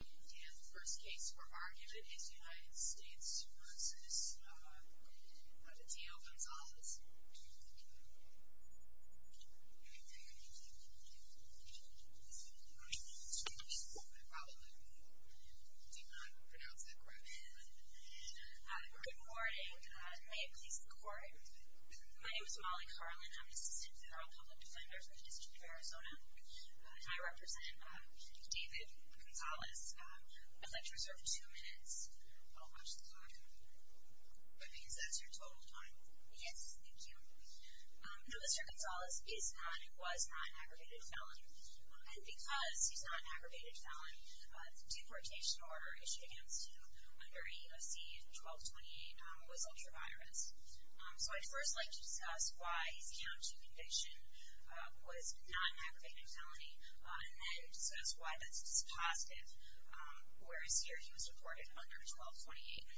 And the first case for argument is United States v. Patillo Gonzalez. Good morning. May it please the Court. My name is Molly Carlin. I'm an assistant federal public defender for the District of Arizona. And I represent David Gonzalez. I'd like to reserve two minutes. I'll watch the clock. That means that's your total time. Yes, thank you. Now, Mr. Gonzalez is not and was not an aggravated felon. And because he's not an aggravated felon, the deportation order issued against him under AOC in 1228 was ultra-virus. So I'd first like to discuss why his county conviction was not an aggravated felony, and then discuss why that's just positive, whereas here he was deported under 1228.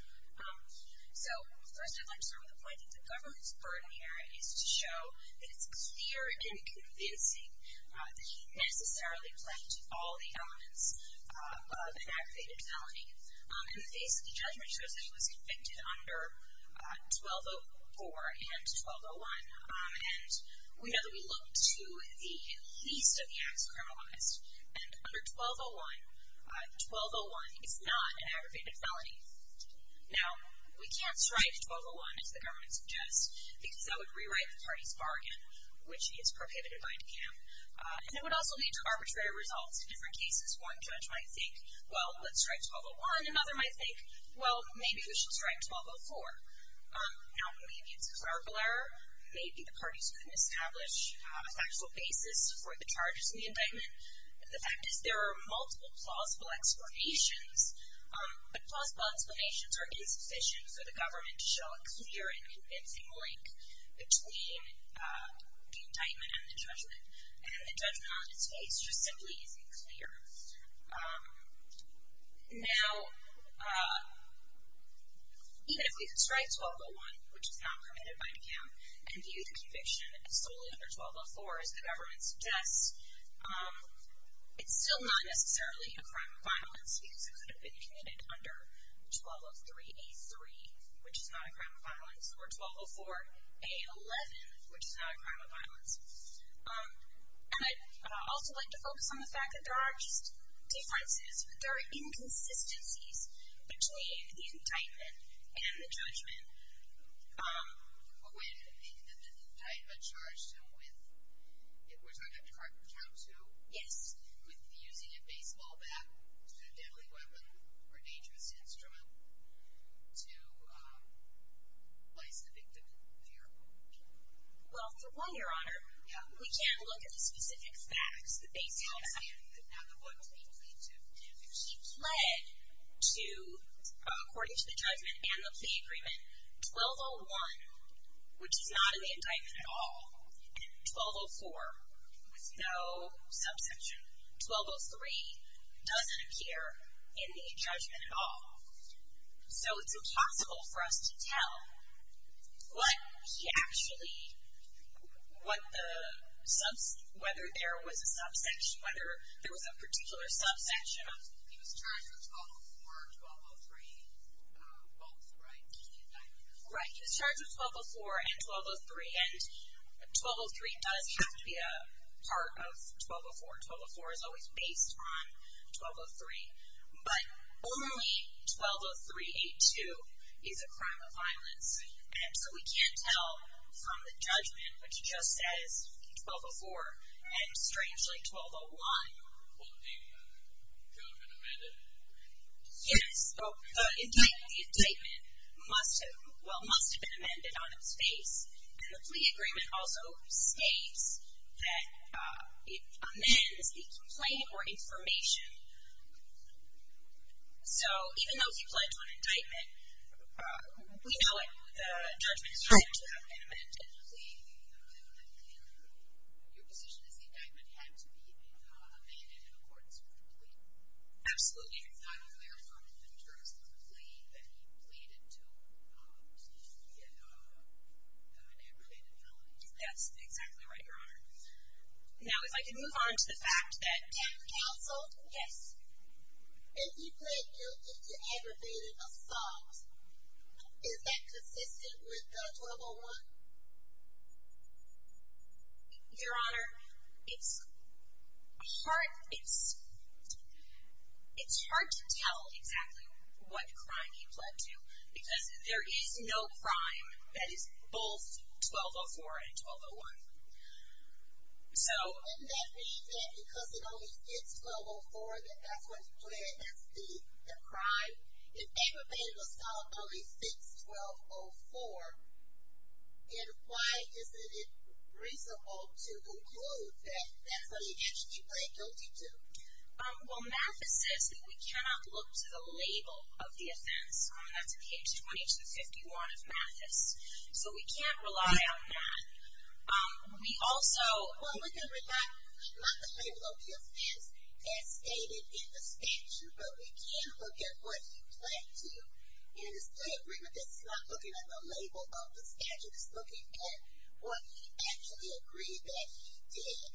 So first I'd like to start with the point that the government's burden here is to show that it's clear and convincing that he necessarily played to all the elements of an aggravated felony. In the face of the judgment, it shows that he was convicted under 1204 and 1201. And we know that we look to the least of the acts criminalized. And under 1201, 1201 is not an aggravated felony. Now, we can't strike 1201, as the government suggests, because that would rewrite the party's bargain, which is prohibited by DECAM. And it would also lead to arbitrary results. In different cases, one judge might think, well, let's strike 1201. Another might think, well, maybe we should strike 1204. Now, maybe it's a clerical error. Maybe the parties couldn't establish a factual basis for the charges in the indictment. The fact is there are multiple plausible explanations. But plausible explanations are insufficient for the government to show a clear and convincing link between the indictment and the judgment. And the judgment on its face just simply isn't clear. Now, even if we could strike 1201, which is not permitted by DECAM, and view the conviction as solely under 1204, as the government suggests, it's still not necessarily a crime of violence, because it could have been committed under 1203A3, which is not a crime of violence, or 1204A11, which is not a crime of violence. And I'd also like to focus on the fact that there are just differences, there are inconsistencies between the indictment and the judgment. But when the indictment charged him with, we're talking about DECAM 2? Yes. With using a baseball bat as a deadly weapon or dangerous instrument to place the victim fearful. Well, for one, Your Honor, we can't look at the specific facts. The baseball bat. Now, the one thing we can do. If he pled to, according to the judgment and the plea agreement, 1201, which is not in the indictment at all, and 1204 with no subsection, 1203 doesn't appear in the judgment at all. So it's impossible for us to tell what he actually, whether there was a subsection, whether there was a particular subsection. He was charged with 1204, 1203 both, right, in the indictment? Right. He was charged with 1204 and 1203, and 1203 does have to be a part of 1204. 1204 is always based on 1203. But only 120382 is a crime of violence. And so we can't tell from the judgment, which just says 1204, and strangely 1201. Well, the indictment could have been amended? Yes. The indictment must have been amended on its face. And the plea agreement also states that it amends the complaint or information. So even though he pled to an indictment, we know the judgment is right. It should have been amended. The plea, your position is the indictment had to be amended in accordance with the plea? Absolutely. The indictment therefore in terms of the plea that he pleaded to get an aggravated felony? That's exactly right, Your Honor. Now, if I could move on to the fact that. Counsel? Yes. If he pled guilty to aggravated assault, is that consistent with the 1201? Your Honor, it's hard to tell exactly what crime he pled to, because there is no crime that is both 1204 and 1201. So. And that means that because it only fits 1204, that that's what he pled, that's the crime? If aggravated assault only fits 1204, then why isn't it reasonable to conclude that that's what he actually pled guilty to? Well, Mathis says that we cannot look to the label of the offense. That's on page 2251 of Mathis. So we can't rely on that. We also. Well, we can rely not the label of the offense as stated in the statute, but we can look at what he pled to. In this plea agreement, this is not looking at the label of the statute. It's looking at what he actually agreed that he did.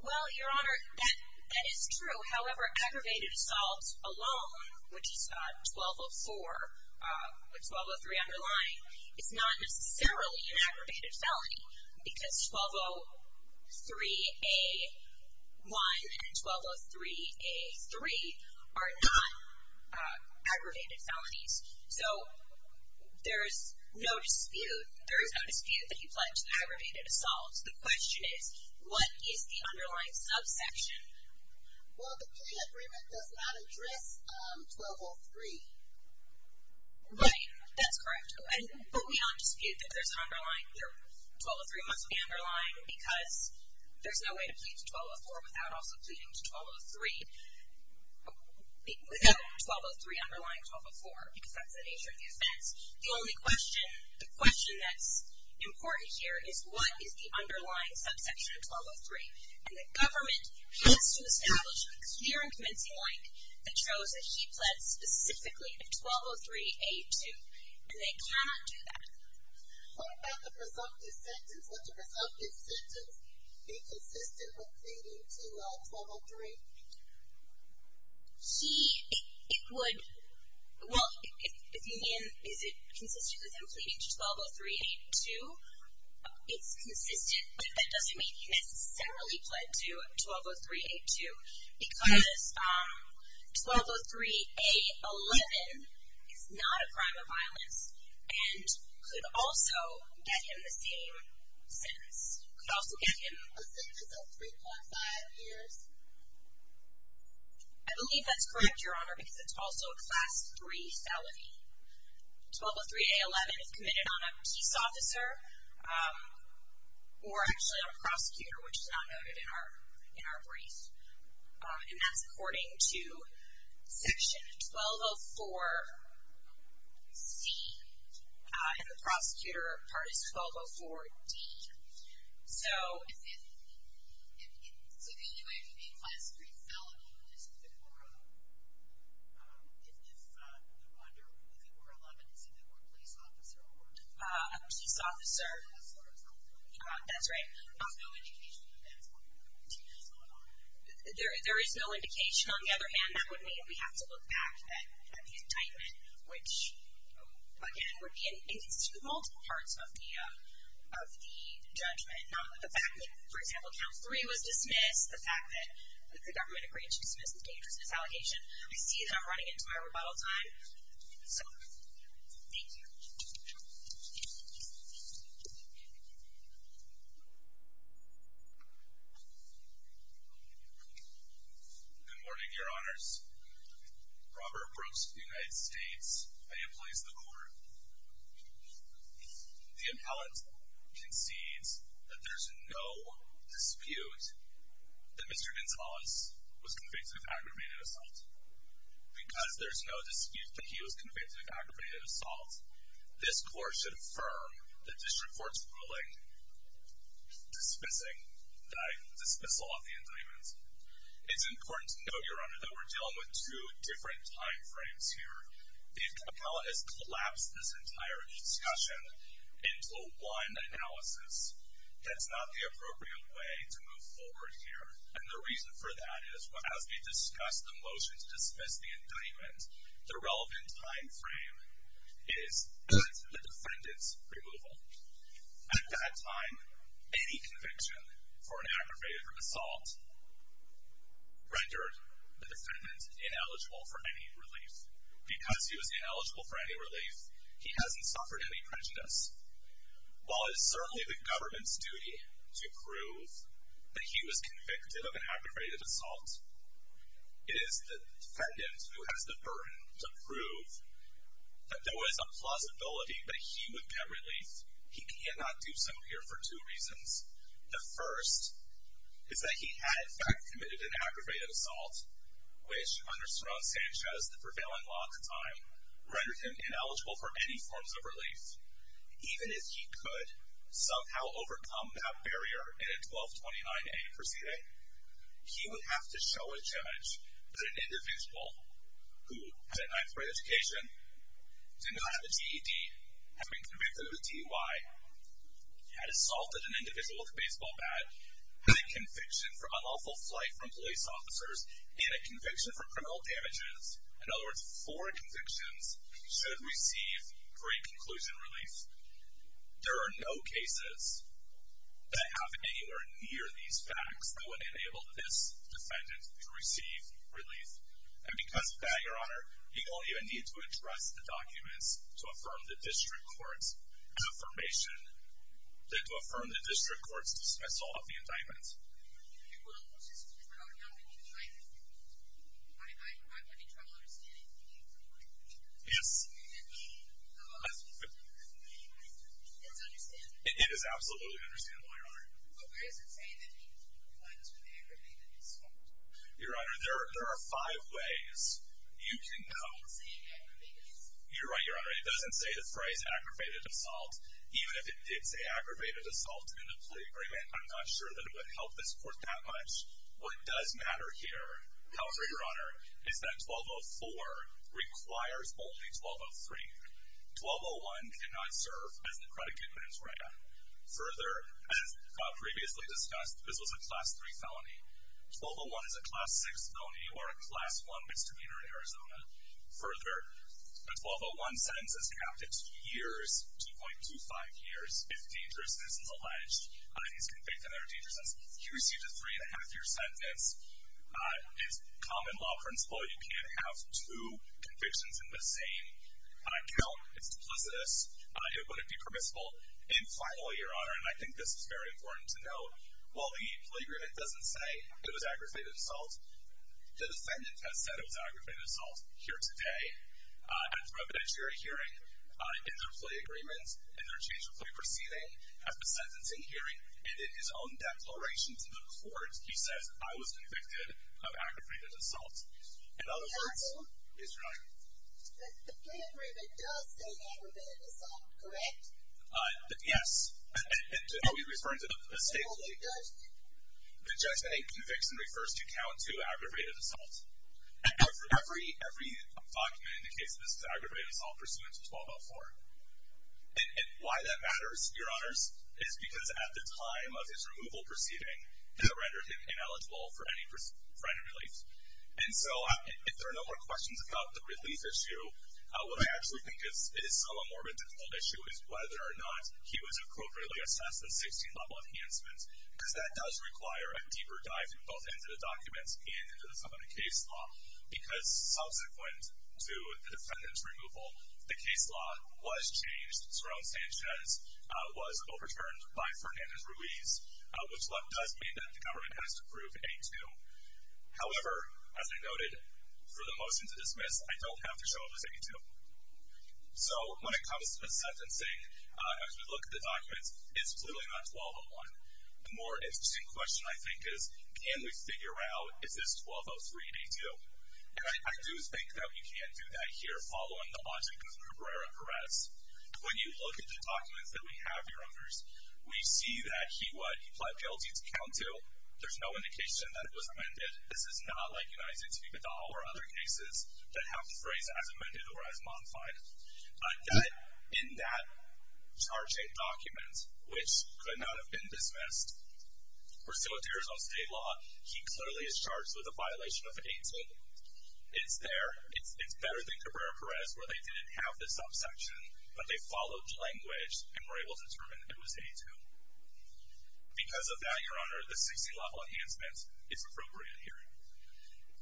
Well, Your Honor, that is true. However, aggravated assault alone, which is 1204 with 1203 underlying, is not necessarily an aggravated felony, because 1203A1 and 1203A3 are not aggravated felonies. So there is no dispute that he pled to aggravated assault. The question is, what is the underlying subsection? Well, the plea agreement does not address 1203. Right. That's correct. But we don't dispute that 1203 must be underlying, because there's no way to plead to 1204 without also pleading to 1203 without 1203 underlying 1204, because that's the nature of the offense. The only question, the question that's important here is, what is the underlying subsection of 1203? And the government has to establish a clear and convincing link that shows that he pled specifically to 1203A2, and they cannot do that. What about the presumptive sentence? Would the presumptive sentence be consistent with pleading to 1203? He – it would – well, if you mean is it consistent with him pleading to 1203A2, it's consistent, but that doesn't mean he necessarily pled to 1203A2, because 1203A11 is not a crime of violence and could also get him the same sentence. Could also get him a sentence of 3.5 years. I believe that's correct, Your Honor, because it's also a Class III felony. 1203A11 is committed on a peace officer or actually a prosecutor, which is not noted in our brief. And that's according to Section 1204C. And the prosecutor part is 1204D. So if – so the only way it would be a Class III felony is if it were a – if under – if it were 11, it's either a police officer or – A peace officer. That's right. There is no indication that that's going to happen. There is no indication. On the other hand, that would mean we have to look back at the indictment, which, again, would be in multiple parts of the judgment. The fact that, for example, Count 3 was dismissed, the fact that the government agreed to dismiss the dangerousness allegation, I see that I'm running into my rebuttal time. So, thank you. Thank you. Good morning, Your Honors. Robert Brooks of the United States. I am a police lawyer. The appellant concedes that there's no dispute that Mr. Gonzalez was convicted of aggravated assault. Because there's no dispute that he was convicted of aggravated assault, this court should affirm the district court's ruling dismissing the – dismissal of the indictment. It's important to note, Your Honor, that we're dealing with two different time frames here. The appellant has collapsed this entire discussion into one analysis. That's not the appropriate way to move forward here. And the reason for that is, as we discussed the motion to dismiss the indictment, the relevant time frame is at the defendant's removal. At that time, any conviction for an aggravated assault rendered the defendant ineligible for any relief. Because he was ineligible for any relief, he hasn't suffered any prejudice. While it is certainly the government's duty to prove that he was convicted of an aggravated assault, it is the defendant who has the burden to prove that there was a plausibility that he would get relief. He cannot do so here for two reasons. The first is that he had, in fact, committed an aggravated assault, which under Saron Sanchez, the prevailing law at the time, rendered him ineligible for any forms of relief. Even if he could somehow overcome that barrier in a 1229A proceeding, he would have to show a judge that an individual who had a ninth-grade education, did not have a GED, has been convicted of a DUI, had assaulted an individual with a baseball bat, had a conviction for unlawful flight from police officers, and a conviction for criminal damages. In other words, four convictions should receive great conclusion relief. There are no cases that have anywhere near these facts that would enable this defendant to receive relief. And because of that, Your Honor, you don't even need to address the documents to affirm the district court's affirmation, than to affirm the district court's dismissal of the indictment. Well, just as an argument, I'm having trouble understanding what you're trying to say. Yes. And it's understandable. It is absolutely understandable, Your Honor. But where does it say that he complies with aggravated assault? Your Honor, there are five ways you can go. It doesn't say aggravated assault. You're right, Your Honor. It doesn't say the phrase aggravated assault. Even if it did say aggravated assault in the plea agreement, I'm not sure that it would help this court that much. What does matter here, however, Your Honor, is that 1204 requires only 1203. 1201 cannot serve as the predicate in his wrath. Further, as previously discussed, this was a Class 3 felony. 1201 is a Class 6 felony or a Class 1 misdemeanor in Arizona. Further, the 1201 sentence is capped at two years, 2.25 years, if dangerousness is alleged. He's convicted under dangerousness. He received a three-and-a-half-year sentence. It's common law principle. You can't have two convictions in the same count. It's duplicitous. It wouldn't be permissible. And finally, Your Honor, and I think this is very important to note, while the plea agreement doesn't say it was aggravated assault, the defendant has said it was aggravated assault here today at the preliminary hearing in their plea agreement, in their change of plea proceeding, at the sentencing hearing, and in his own declaration to the court, he says, I was convicted of aggravated assault. In other words, yes, Your Honor? The plea agreement does say aggravated assault, correct? Yes. Oh, he's referring to the state plea agreement. The judgment in conviction refers to count two aggravated assault. Every document indicates that this is aggravated assault pursuant to 1204. And why that matters, Your Honors, is because at the time of his removal proceeding, that rendered him ineligible for any kind of relief. And so if there are no more questions about the relief issue, what I actually think is somewhat more of a difficult issue is whether or not he was appropriately assessed a 16th-level enhancement, because that does require a deeper dive into both the documents and into some of the case law, because subsequent to the defendant's removal, the case law was changed. Saron Sanchez was overturned by Fernandez-Ruiz, which does mean that the government has to prove A2. However, as I noted, for the motion to dismiss, I don't have to show it as A2. So when it comes to sentencing, as we look at the documents, it's clearly not 1201. The more interesting question, I think, is can we figure out, is this 1203 A2? And I do think that we can do that here, following the logic of the Cabrera arrest. When you look at the documents that we have, Your Honors, we see that he what? He pled guilty to count two. There's no indication that it was amended. This is not like United States v. Badal or other cases that have the phrase as amended or as modified. In that charging document, which could not have been dismissed, we're still at tears on state law. He clearly is charged with a violation of A2. It's there. It's better than Cabrera arrest where they didn't have this subsection, but they followed language and were able to determine it was A2. Because of that, Your Honor, the 60-level enhancement is appropriate here.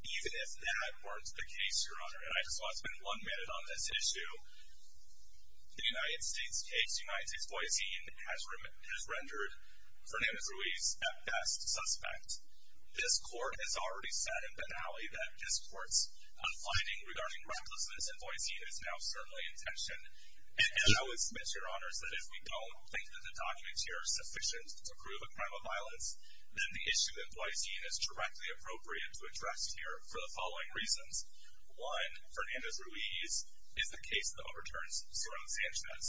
Even if that weren't the case, Your Honor, and I just want to spend one minute on this issue, the United States case, United States v. Boisín has rendered Fernandez-Ruiz at best suspect. This court has already said in finale that this court's finding regarding recklessness in Boisín is now certainly in tension. And I would submit, Your Honors, that if we don't think that the documents here are sufficient to prove a crime of violence, then the issue in Boisín is directly appropriate to address here for the following reasons. One, Fernandez-Ruiz is the case that overturns circumstances.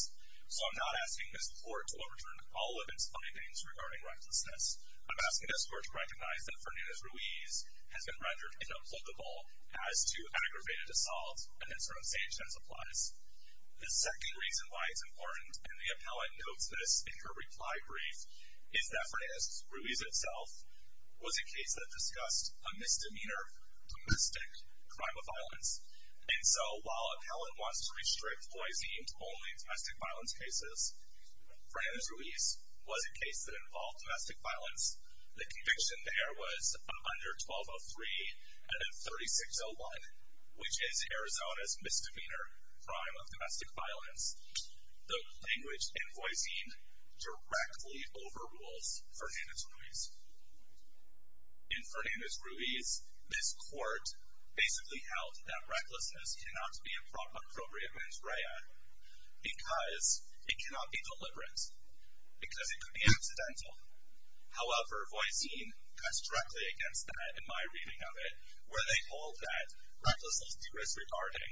So I'm not asking this court to overturn all of its findings regarding recklessness. I'm asking this court to recognize that Fernandez-Ruiz has been rendered inapplicable as to aggravated assault. And that's where abstention applies. The second reason why it's important, and the appellant notes this in her reply brief, is that Fernandez-Ruiz itself was a case that discussed a misdemeanor, domestic crime of violence. And so while appellant wants to restrict Boisín to only domestic violence cases, Fernandez-Ruiz was a case that involved domestic violence. The conviction there was under 1203 out of 3601, which is Arizona's misdemeanor crime of domestic violence. The language in Boisín directly overrules Fernandez-Ruiz. In Fernandez-Ruiz, this court basically held that recklessness cannot be an appropriate mens rea because it cannot be deliberate, because it could be accidental. However, Boisín cuts directly against that in my reading of it, where they hold that recklessness is regarding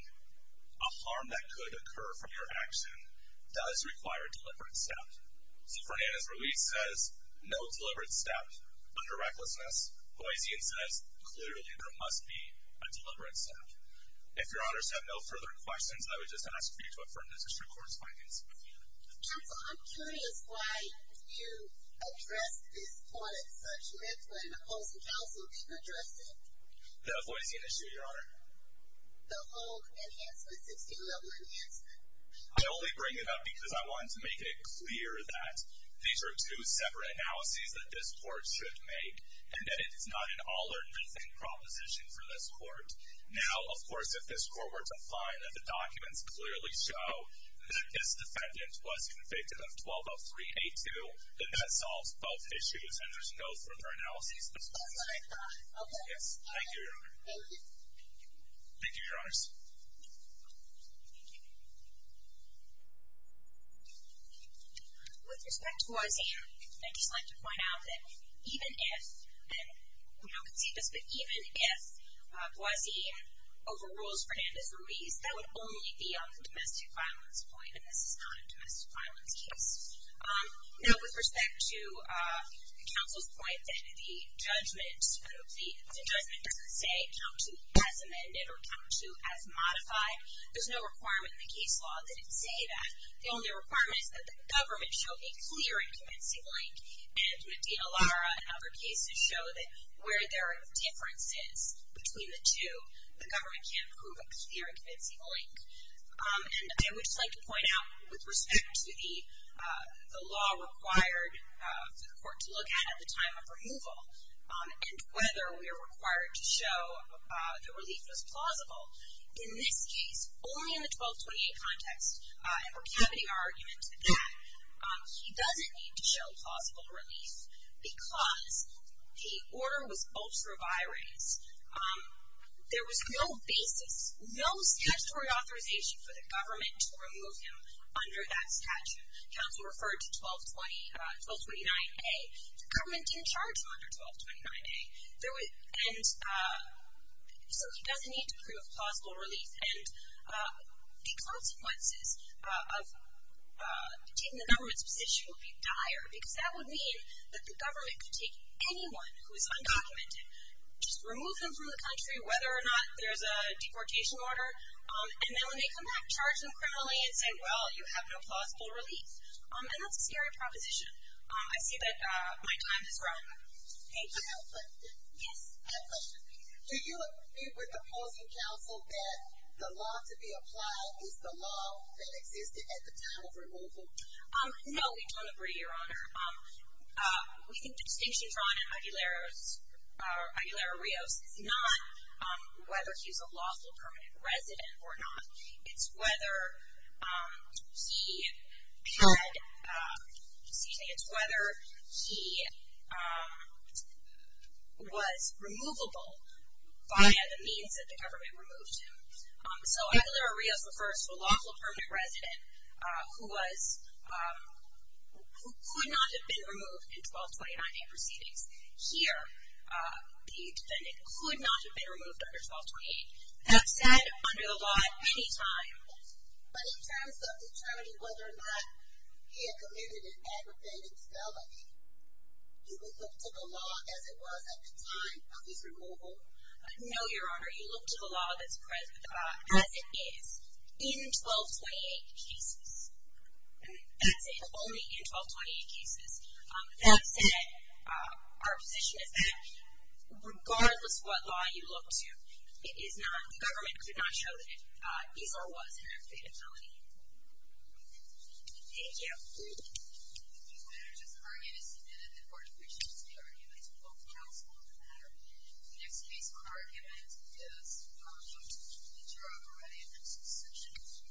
a harm that could occur from your action does require deliberate step. So Fernandez-Ruiz says no deliberate step under recklessness. Boisín says clearly there must be a deliberate step. If your honors have no further questions, I would just ask for you to affirm the district court's findings. Counsel, I'm curious why you addressed this point at such length when opposing counsel didn't address it? The Boisín issue, your honor. The whole enhancement, the two level enhancement. I only bring it up because I wanted to make it clear that these are two separate analyses that this court should make. And that it is not an all or nothing proposition for this court. Now, of course, if this court were to find that the documents clearly show that this defendant was convicted of 12-03-82, then that solves both issues and there's no further analysis. Okay. Yes. Thank you. Thank you. Thank you, your honors. With respect to Boisín, I'd just like to point out that even if, and we don't concede this, but even if Boisín overrules Fernandez-Ruiz, that would only be on the domestic violence point. And this is not a domestic violence case. Now, with respect to counsel's point that the judgment, the judgment doesn't say count to as amended or count to as modified. There's no requirement in the case law that it say that. The only requirement is that the government show a clear and convincing link. And with D. Alara and other cases show that where there are differences between the two, the government can prove a clear and convincing link. And I would just like to point out, with respect to the law required for the court to look at at the time of removal, and whether we are required to show the relief was plausible. In this case, only in the 1228 context, and we're cavity our argument that he doesn't need to show plausible relief because the order was both revirates. There was no basis, no statutory authorization for the government to remove him under that statute. Counsel referred to 1220, 1229A. The government didn't charge him under 1229A. So he doesn't need to prove plausible relief. And the consequences of taking the government's position would be dire. Because that would mean that the government could take anyone who is undocumented, just remove them from the country, whether or not there's a deportation order. And then when they come back, charge them criminally and say, well, you have no plausible relief. And that's a scary proposition. I see that my time has run. Thank you. Yes, I have a question. Do you agree with opposing counsel that the law to be applied is the law that existed at the time of removal? No, we don't agree, Your Honor. We think the distinction drawn in Aguilera-Rios is not whether he's a lawful permanent resident or not. It's whether he was removable via the means that the government removed him. So Aguilera-Rios refers to a lawful permanent resident who could not have been removed in 1229A proceedings. Here, the defendant could not have been removed under 1228. That's said under the law at any time. But in terms of determining whether or not he had committed an aggravated felony, do we look to the law as it was at the time of his removal? No, Your Honor. You look to the law as it is in 1228 cases. That's it, only in 1228 cases. That said, our position is that regardless what law you look to, the government did not show that Esau was an aggravated felony. Thank you. The witness's argument is submitted. The court appreciates the argument. We will counsel on the matter. The next case on argument is the charge of a ready-admissal section.